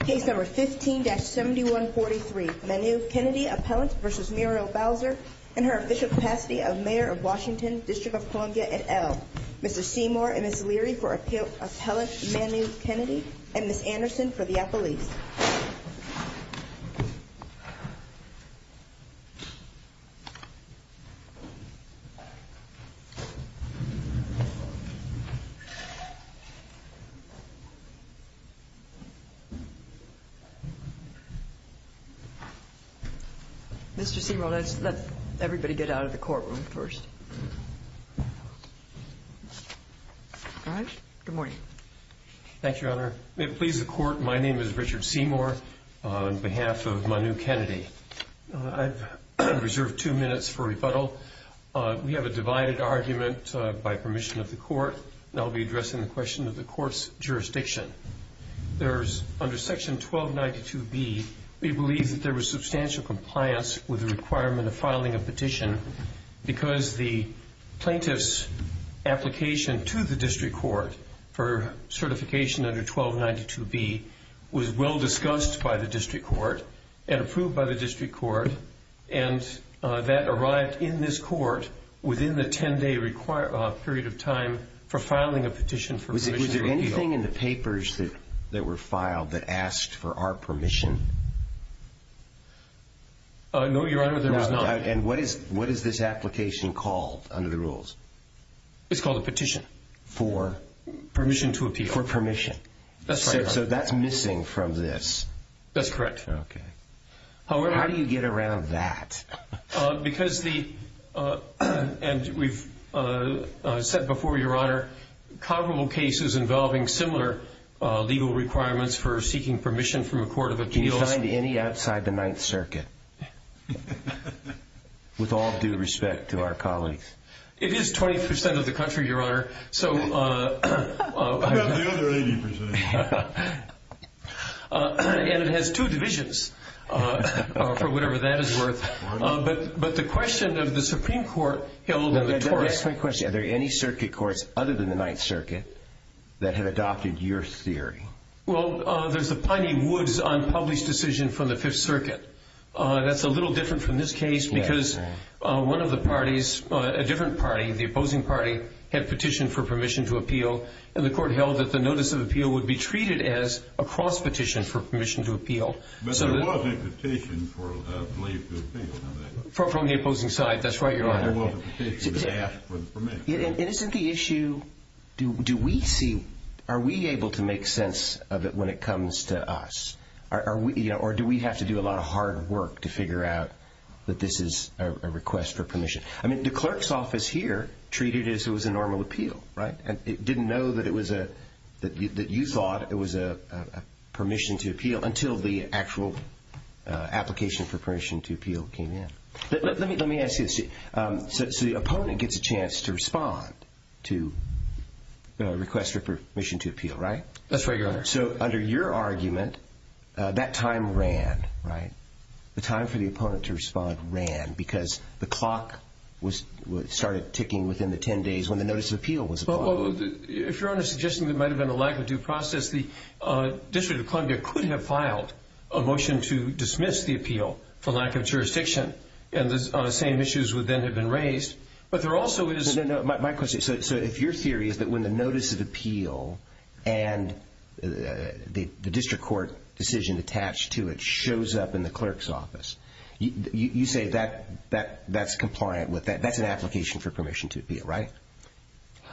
Case No. 15-7143 Manu Kennedy Appellant v. Murial Bowser and her official capacity of Mayor of Washington, District of Columbia, et al. Mr. Seymour and Ms. Leary for Appellant Manu Kennedy and Ms. Anderson for the Appellees. Mr. Seymour, let's let everybody get out of the courtroom first. All right. Good morning. Thank you, Your Honor. May it please the Court, my name is Richard Seymour on behalf of Manu Kennedy. I've reserved two minutes for rebuttal. We have a divided argument by permission of the Court, and I'll be addressing the question of the Court's jurisdiction. Under Section 1292B, we believe that there was substantial compliance with the requirement of filing a petition because the plaintiff's application to the District Court for certification under 1292B was well discussed by the District Court and approved by the District Court, and that arrived in this Court within the 10-day period of time for filing a petition for permission to appeal. Was there anything in the papers that were filed that asked for our permission? No, Your Honor, there was not. And what is this application called under the rules? It's called a petition. For? Permission to appeal. For permission. That's right, Your Honor. So that's missing from this. That's correct. Okay. How do you get around that? Because the – and we've said before, Your Honor, comparable cases involving similar legal requirements for seeking permission from a court of appeals. Can you find any outside the Ninth Circuit? With all due respect to our colleagues. It is 20% of the country, Your Honor. How about the other 80%? And it has two divisions, for whatever that is worth. But the question of the Supreme Court held in the Tories – Let me ask my question. Are there any circuit courts other than the Ninth Circuit that have adopted your theory? Well, there's the Piney Woods unpublished decision from the Fifth Circuit. That's a little different from this case because one of the parties, a different party, the opposing party, had petitioned for permission to appeal. And the court held that the notice of appeal would be treated as a cross-petition for permission to appeal. But there was a petition for leave to appeal. From the opposing side. That's right, Your Honor. There was a petition that asked for the permission. And isn't the issue, do we see – are we able to make sense of it when it comes to us? Or do we have to do a lot of hard work to figure out that this is a request for permission? I mean, the clerk's office here treated it as it was a normal appeal, right? It didn't know that it was a – that you thought it was a permission to appeal until the actual application for permission to appeal came in. Let me ask you this. So the opponent gets a chance to respond to a request for permission to appeal, right? That's right, Your Honor. So under your argument, that time ran, right? The time for the opponent to respond ran because the clock was – started ticking within the 10 days when the notice of appeal was applied. Well, if Your Honor is suggesting there might have been a lack of due process, the District of Columbia couldn't have filed a motion to dismiss the appeal for lack of jurisdiction. And the same issues would then have been raised. But there also is – No, no, no. My question is, so if your theory is that when the notice of appeal and the district court decision attached to it shows up in the clerk's office, you say that that's compliant with that, that's an application for permission to appeal, right?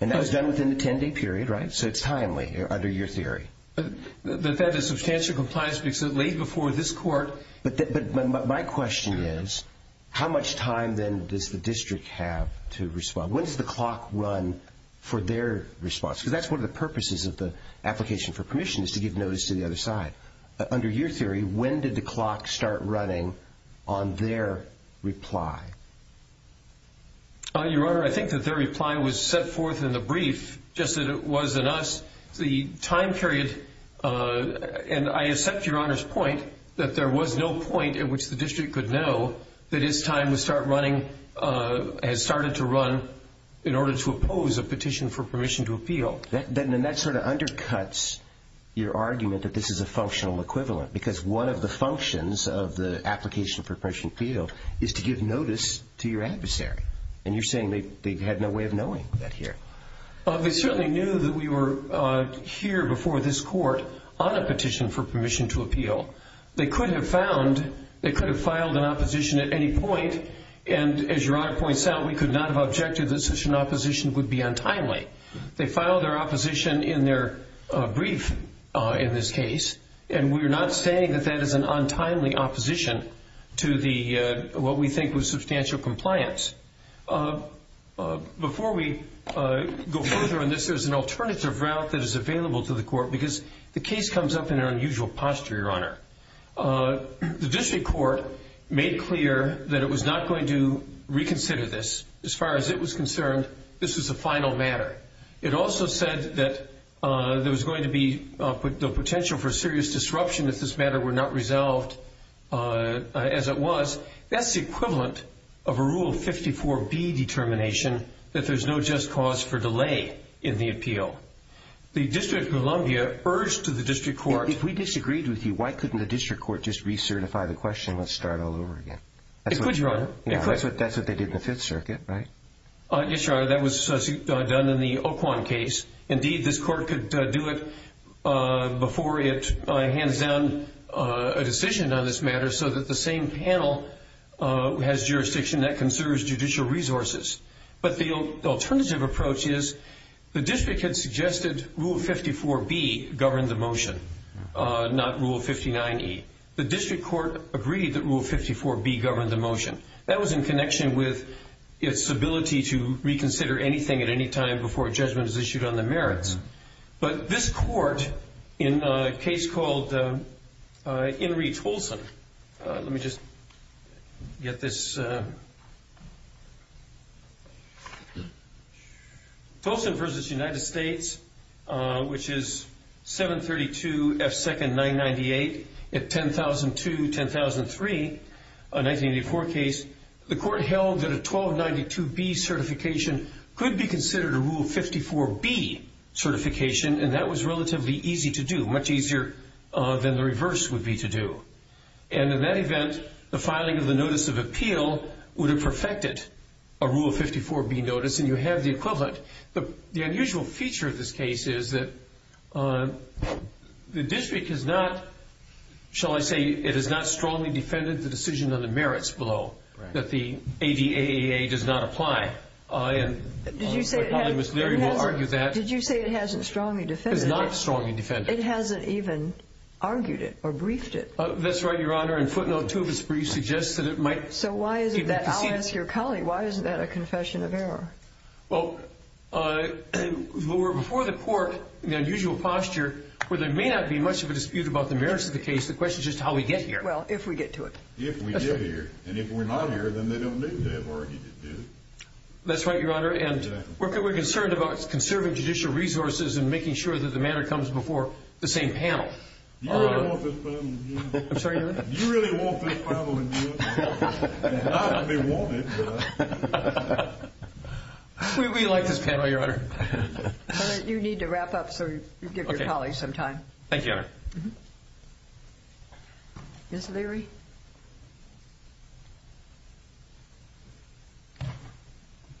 And that was done within the 10-day period, right? So it's timely under your theory. That is substantial compliance because late before this court – But my question is, how much time then does the district have to respond? When does the clock run for their response? Because that's one of the purposes of the application for permission is to give notice to the other side. Under your theory, when did the clock start running on their reply? Your Honor, I think that their reply was set forth in the brief just as it was in us. The time period – and I accept Your Honor's point that there was no point at which the district could know that it's time to start running – has started to run in order to oppose a petition for permission to appeal. Then that sort of undercuts your argument that this is a functional equivalent because one of the functions of the application for permission to appeal is to give notice to your adversary. And you're saying they had no way of knowing that here. They certainly knew that we were here before this court on a petition for permission to appeal. They could have found – they could have filed an opposition at any point, and as Your Honor points out, we could not have objected that such an opposition would be untimely. They filed their opposition in their brief in this case, and we're not saying that that is an untimely opposition to what we think was substantial compliance. Before we go further on this, there's an alternative route that is available to the court because the case comes up in an unusual posture, Your Honor. The district court made clear that it was not going to reconsider this. As far as it was concerned, this was a final matter. It also said that there was going to be the potential for serious disruption if this matter were not resolved as it was. That's the equivalent of a Rule 54B determination that there's no just cause for delay in the appeal. The District of Columbia urged the district court – If we disagreed with you, why couldn't the district court just recertify the question and let's start all over again? It could, Your Honor. That's what they did in the Fifth Circuit, right? Yes, Your Honor. That was done in the Oquan case. Indeed, this court could do it before it hands down a decision on this matter so that the same panel has jurisdiction that conserves judicial resources. But the alternative approach is the district had suggested Rule 54B govern the motion, not Rule 59E. The district court agreed that Rule 54B govern the motion. That was in connection with its ability to reconsider anything at any time before a judgment is issued on the merits. But this court, in a case called In re Tolson – Let me just get this. Tolson v. United States, which is 732 F. 2nd 998 at 1002-1003, a 1984 case. The court held that a 1292B certification could be considered a Rule 54B certification, and that was relatively easy to do, much easier than the reverse would be to do. And in that event, the filing of the notice of appeal would have perfected a Rule 54B notice, and you have the equivalent. The unusual feature of this case is that the district has not, shall I say, it has not strongly defended the decision on the merits below, that the ADAAA does not apply. And my colleague, Ms. Leary, will argue that. Did you say it hasn't strongly defended it? It has not strongly defended it. It hasn't even argued it or briefed it. That's right, Your Honor. And footnote 2 of its brief suggests that it might even proceed. So why is it that – I'll ask your colleague – why is that a confession of error? Well, we're before the court in the unusual posture where there may not be much of a dispute about the merits of the case. The question is just how we get here. Well, if we get to it. If we get here. And if we're not here, then they don't need to have argued it, do they? That's right, Your Honor. And we're concerned about conserving judicial resources and making sure that the matter comes before the same panel. Do you really want this problem in the U.S.? Do you really want this problem in the U.S.? Not that they want it. We like this panel, Your Honor. You need to wrap up so you can give your colleague some time. Thank you, Your Honor. Ms. Leary?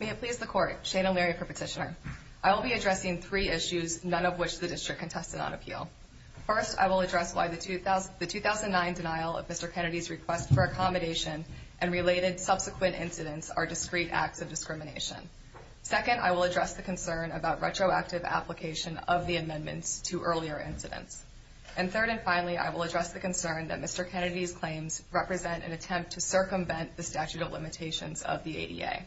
May it please the Court. Shana Leary for Petitioner. I will be addressing three issues, none of which the district contested on appeal. First, I will address why the 2009 denial of Mr. Kennedy's request for accommodation and related subsequent incidents are discrete acts of discrimination. Second, I will address the concern about retroactive application of the amendments to earlier incidents. And third and finally, I will address the concern that Mr. Kennedy's claims represent an attempt to circumvent the statute of limitations of the ADA.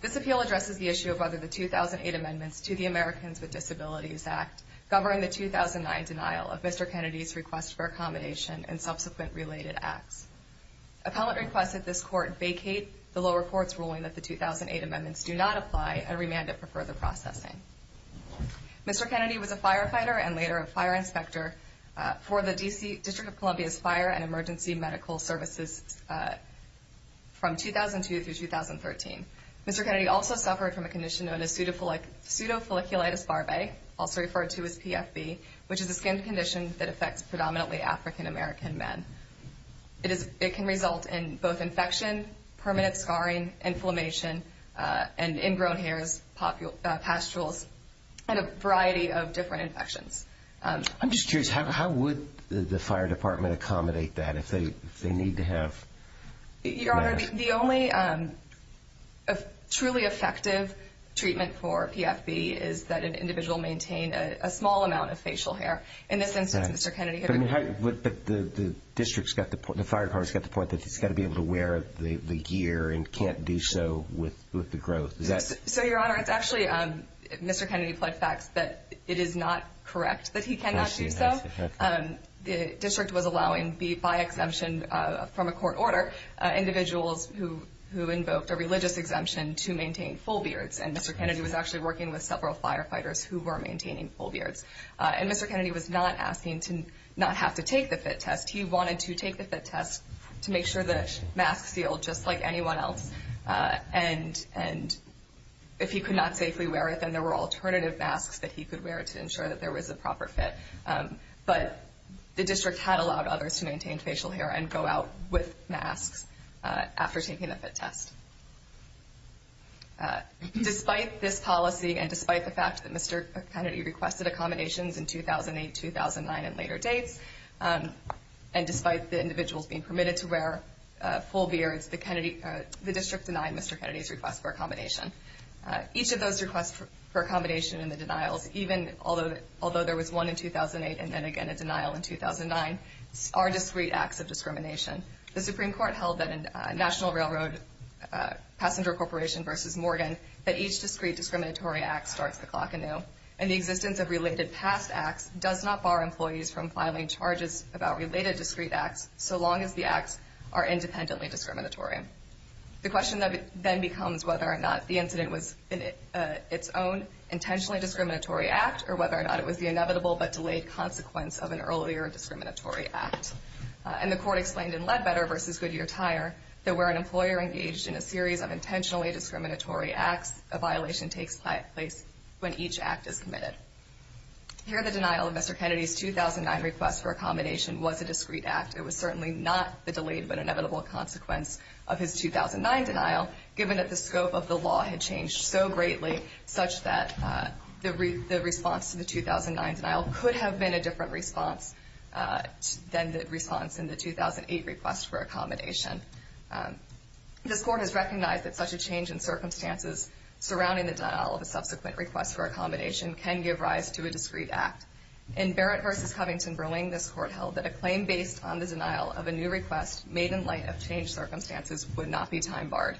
This appeal addresses the issue of whether the 2008 amendments to the Americans with Disabilities Act govern the 2009 denial of Mr. Kennedy's request for accommodation and subsequent related acts. Appellant requested this Court vacate the lower court's ruling that the 2008 amendments do not apply and remand it for further processing. Mr. Kennedy was a firefighter and later a fire inspector for the District of Columbia's Fire and Emergency Medical Services from 2002 through 2013. Mr. Kennedy also suffered from a condition known as pseudofolliculitis barbae, also referred to as PFB, which is a skin condition that affects predominantly African American men. It can result in both infection, permanent scarring, inflammation, and ingrown hairs, pasturals, and a variety of different infections. I'm just curious, how would the fire department accommodate that if they need to have... Your Honor, the only truly effective treatment for PFB is that an individual maintain a small amount of facial hair. In this instance, Mr. Kennedy... But the fire department's got the point that he's got to be able to wear the gear and can't do so with the growth. So, Your Honor, it's actually... Mr. Kennedy pled facts that it is not correct that he cannot do so. The district was allowing, by exemption from a court order, individuals who invoked a religious exemption to maintain full beards. And Mr. Kennedy was actually working with several firefighters who were maintaining full beards. And Mr. Kennedy was not asking to not have to take the fit test. He wanted to take the fit test to make sure the mask sealed just like anyone else. And if he could not safely wear it, then there were alternative masks that he could wear to ensure that there was a proper fit. But the district had allowed others to maintain facial hair and go out with masks after taking the fit test. Despite this policy and despite the fact that Mr. Kennedy requested accommodations in 2008, 2009, and later dates, and despite the individuals being permitted to wear full beards, the district denied Mr. Kennedy's request for accommodation. Each of those requests for accommodation and the denials, even although there was one in 2008 and then again a denial in 2009, are discrete acts of discrimination. The Supreme Court held that in National Railroad Passenger Corporation v. Morgan, that each discrete discriminatory act starts the clock anew. And the existence of related past acts does not bar employees from filing charges about related discrete acts so long as the acts are independently discriminatory. The question then becomes whether or not the incident was its own intentionally discriminatory act, or whether or not it was the inevitable but delayed consequence of an earlier discriminatory act. And the court explained in Ledbetter v. Goodyear Tire that where an employer engaged in a series of intentionally discriminatory acts, a violation takes place when each act is committed. Here the denial of Mr. Kennedy's 2009 request for accommodation was a discrete act. It was certainly not the delayed but inevitable consequence of his 2009 denial, given that the scope of the law had changed so greatly such that the response to the 2009 denial could have been a different response than the response in the 2008 request for accommodation. This court has recognized that such a change in circumstances surrounding the denial of a subsequent request for accommodation can give rise to a discrete act. In Barrett v. Covington-Berling, this court held that a claim based on the denial of a new request made in light of changed circumstances would not be time-barred.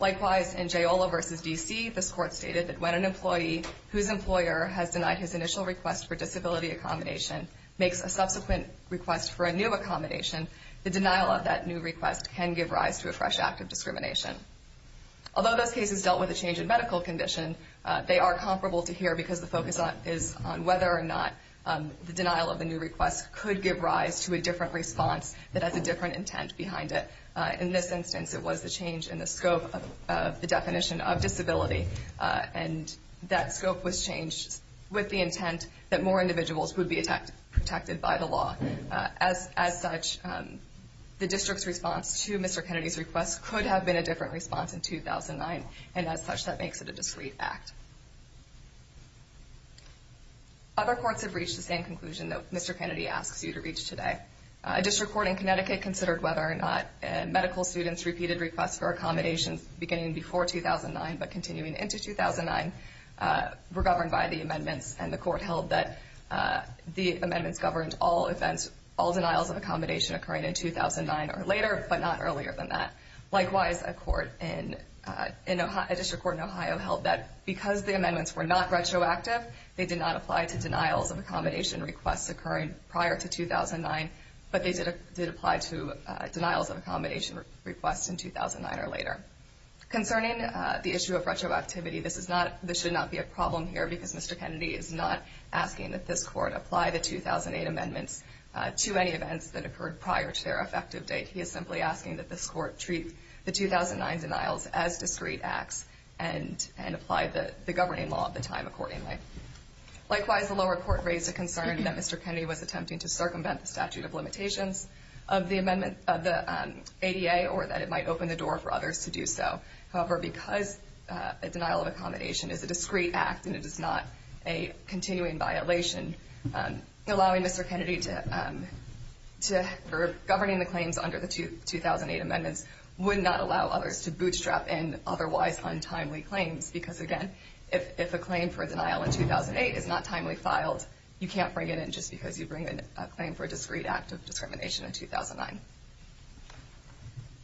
Likewise, in Giola v. D.C., this court stated that when an employee whose employer has denied his initial request for disability accommodation makes a subsequent request for a new accommodation, the denial of that new request can give rise to a fresh act of discrimination. Although those cases dealt with a change in medical condition, they are comparable to here because the focus is on whether or not the denial of the new request could give rise to a different response that has a different intent behind it. In this instance, it was the change in the scope of the definition of disability, and that scope was changed with the intent that more individuals would be protected by the law. As such, the district's response to Mr. Kennedy's request could have been a different response in 2009, and as such, that makes it a discrete act. Other courts have reached the same conclusion that Mr. Kennedy asks you to reach today. A district court in Connecticut considered whether or not medical students' repeated requests for accommodations beginning before 2009 but continuing into 2009 were governed by the amendments, and the court held that the amendments governed all denials of accommodation occurring in 2009 or later, but not earlier than that. Likewise, a district court in Ohio held that because the amendments were not retroactive, they did not apply to denials of accommodation requests occurring prior to 2009, but they did apply to denials of accommodation requests in 2009 or later. Concerning the issue of retroactivity, this should not be a problem here because Mr. Kennedy is not asking that this court apply the 2008 amendments to any events that occurred prior to their effective date. He is simply asking that this court treat the 2009 denials as discrete acts and apply the governing law of the time accordingly. Likewise, the lower court raised a concern that Mr. Kennedy was attempting to circumvent the statute of limitations of the ADA or that it might open the door for others to do so. However, because a denial of accommodation is a discrete act and it is not a continuing violation, allowing Mr. Kennedy to govern the claims under the 2008 amendments would not allow others to bootstrap in otherwise untimely claims because, again, if a claim for a denial in 2008 is not timely filed, you can't bring it in just because you bring in a claim for a discrete act of discrimination in 2009.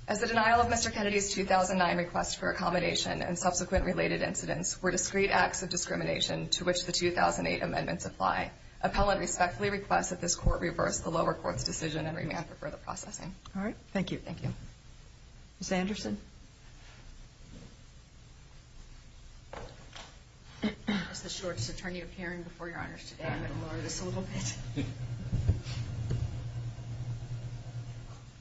As the denial of Mr. Kennedy's 2009 request for accommodation and subsequent related incidents were discrete acts of discrimination to which the 2008 amendments apply, appellate respectfully requests that this court reverse the lower court's decision and remand for further processing. All right. Thank you. Thank you. Ms. Anderson? As the shortest attorney appearing before Your Honors today, I'm going to lower this a little bit.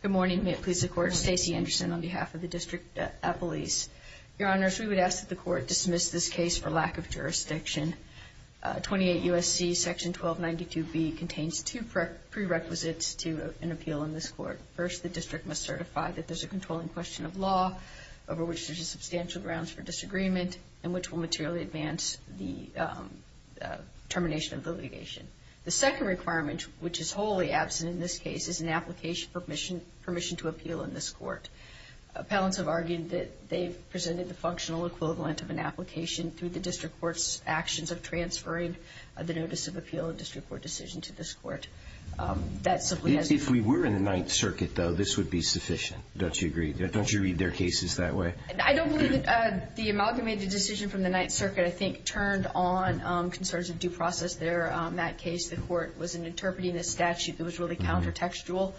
Good morning. May it please the Court. Stacey Anderson on behalf of the District Police. Your Honors, we would ask that the Court dismiss this case for lack of jurisdiction. 28 U.S.C. Section 1292B contains two prerequisites to an appeal in this court. First, the district must certify that there's a controlling question of law over which there's a substantial grounds for disagreement and which will materially advance the termination of the litigation. The second requirement, which is wholly absent in this case, is an application permission to appeal in this court. Appellants have argued that they've presented the functional equivalent of an application through the district court's actions of transferring the notice of appeal and district court decision to this court. If we were in the Ninth Circuit, though, this would be sufficient. Don't you agree? Don't you read their cases that way? I don't believe that the amalgamated decision from the Ninth Circuit, I think, turned on concerns of due process there. In that case, the Court was interpreting a statute that was really countertextual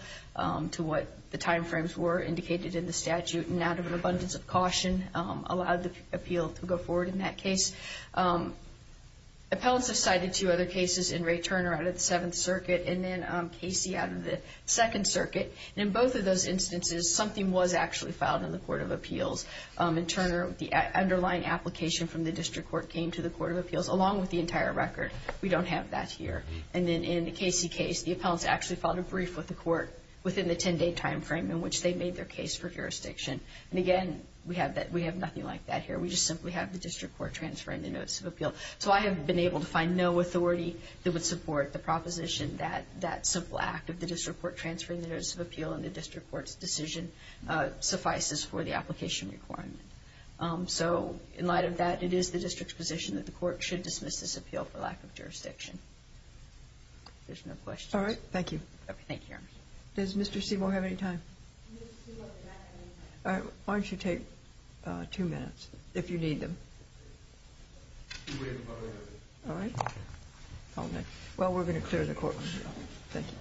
to what the time frames were indicated in the statute and out of an abundance of caution allowed the appeal to go forward in that case. Appellants have cited two other cases in Ray Turner out of the Seventh Circuit and then Casey out of the Second Circuit. And in both of those instances, something was actually filed in the Court of Appeals. In Turner, the underlying application from the district court came to the Court of Appeals along with the entire record. We don't have that here. And then in the Casey case, the appellants actually filed a brief with the Court within the 10-day time frame in which they made their case for jurisdiction. And again, we have nothing like that here. We just simply have the district court transferring the notice of appeal. So I have been able to find no authority that would support the proposition that that simple act of the district court transferring the notice of appeal and the district court's decision suffices for the application requirement. So in light of that, it is the district's position that the court should dismiss this appeal for lack of jurisdiction. If there's no questions. All right. Thank you. Does Mr. Seymour have any time? Mr. Seymour does not have any time. All right. Why don't you take two minutes if you need them. We'll wait a moment. All right. Well, we're going to clear the court room now. Thank you.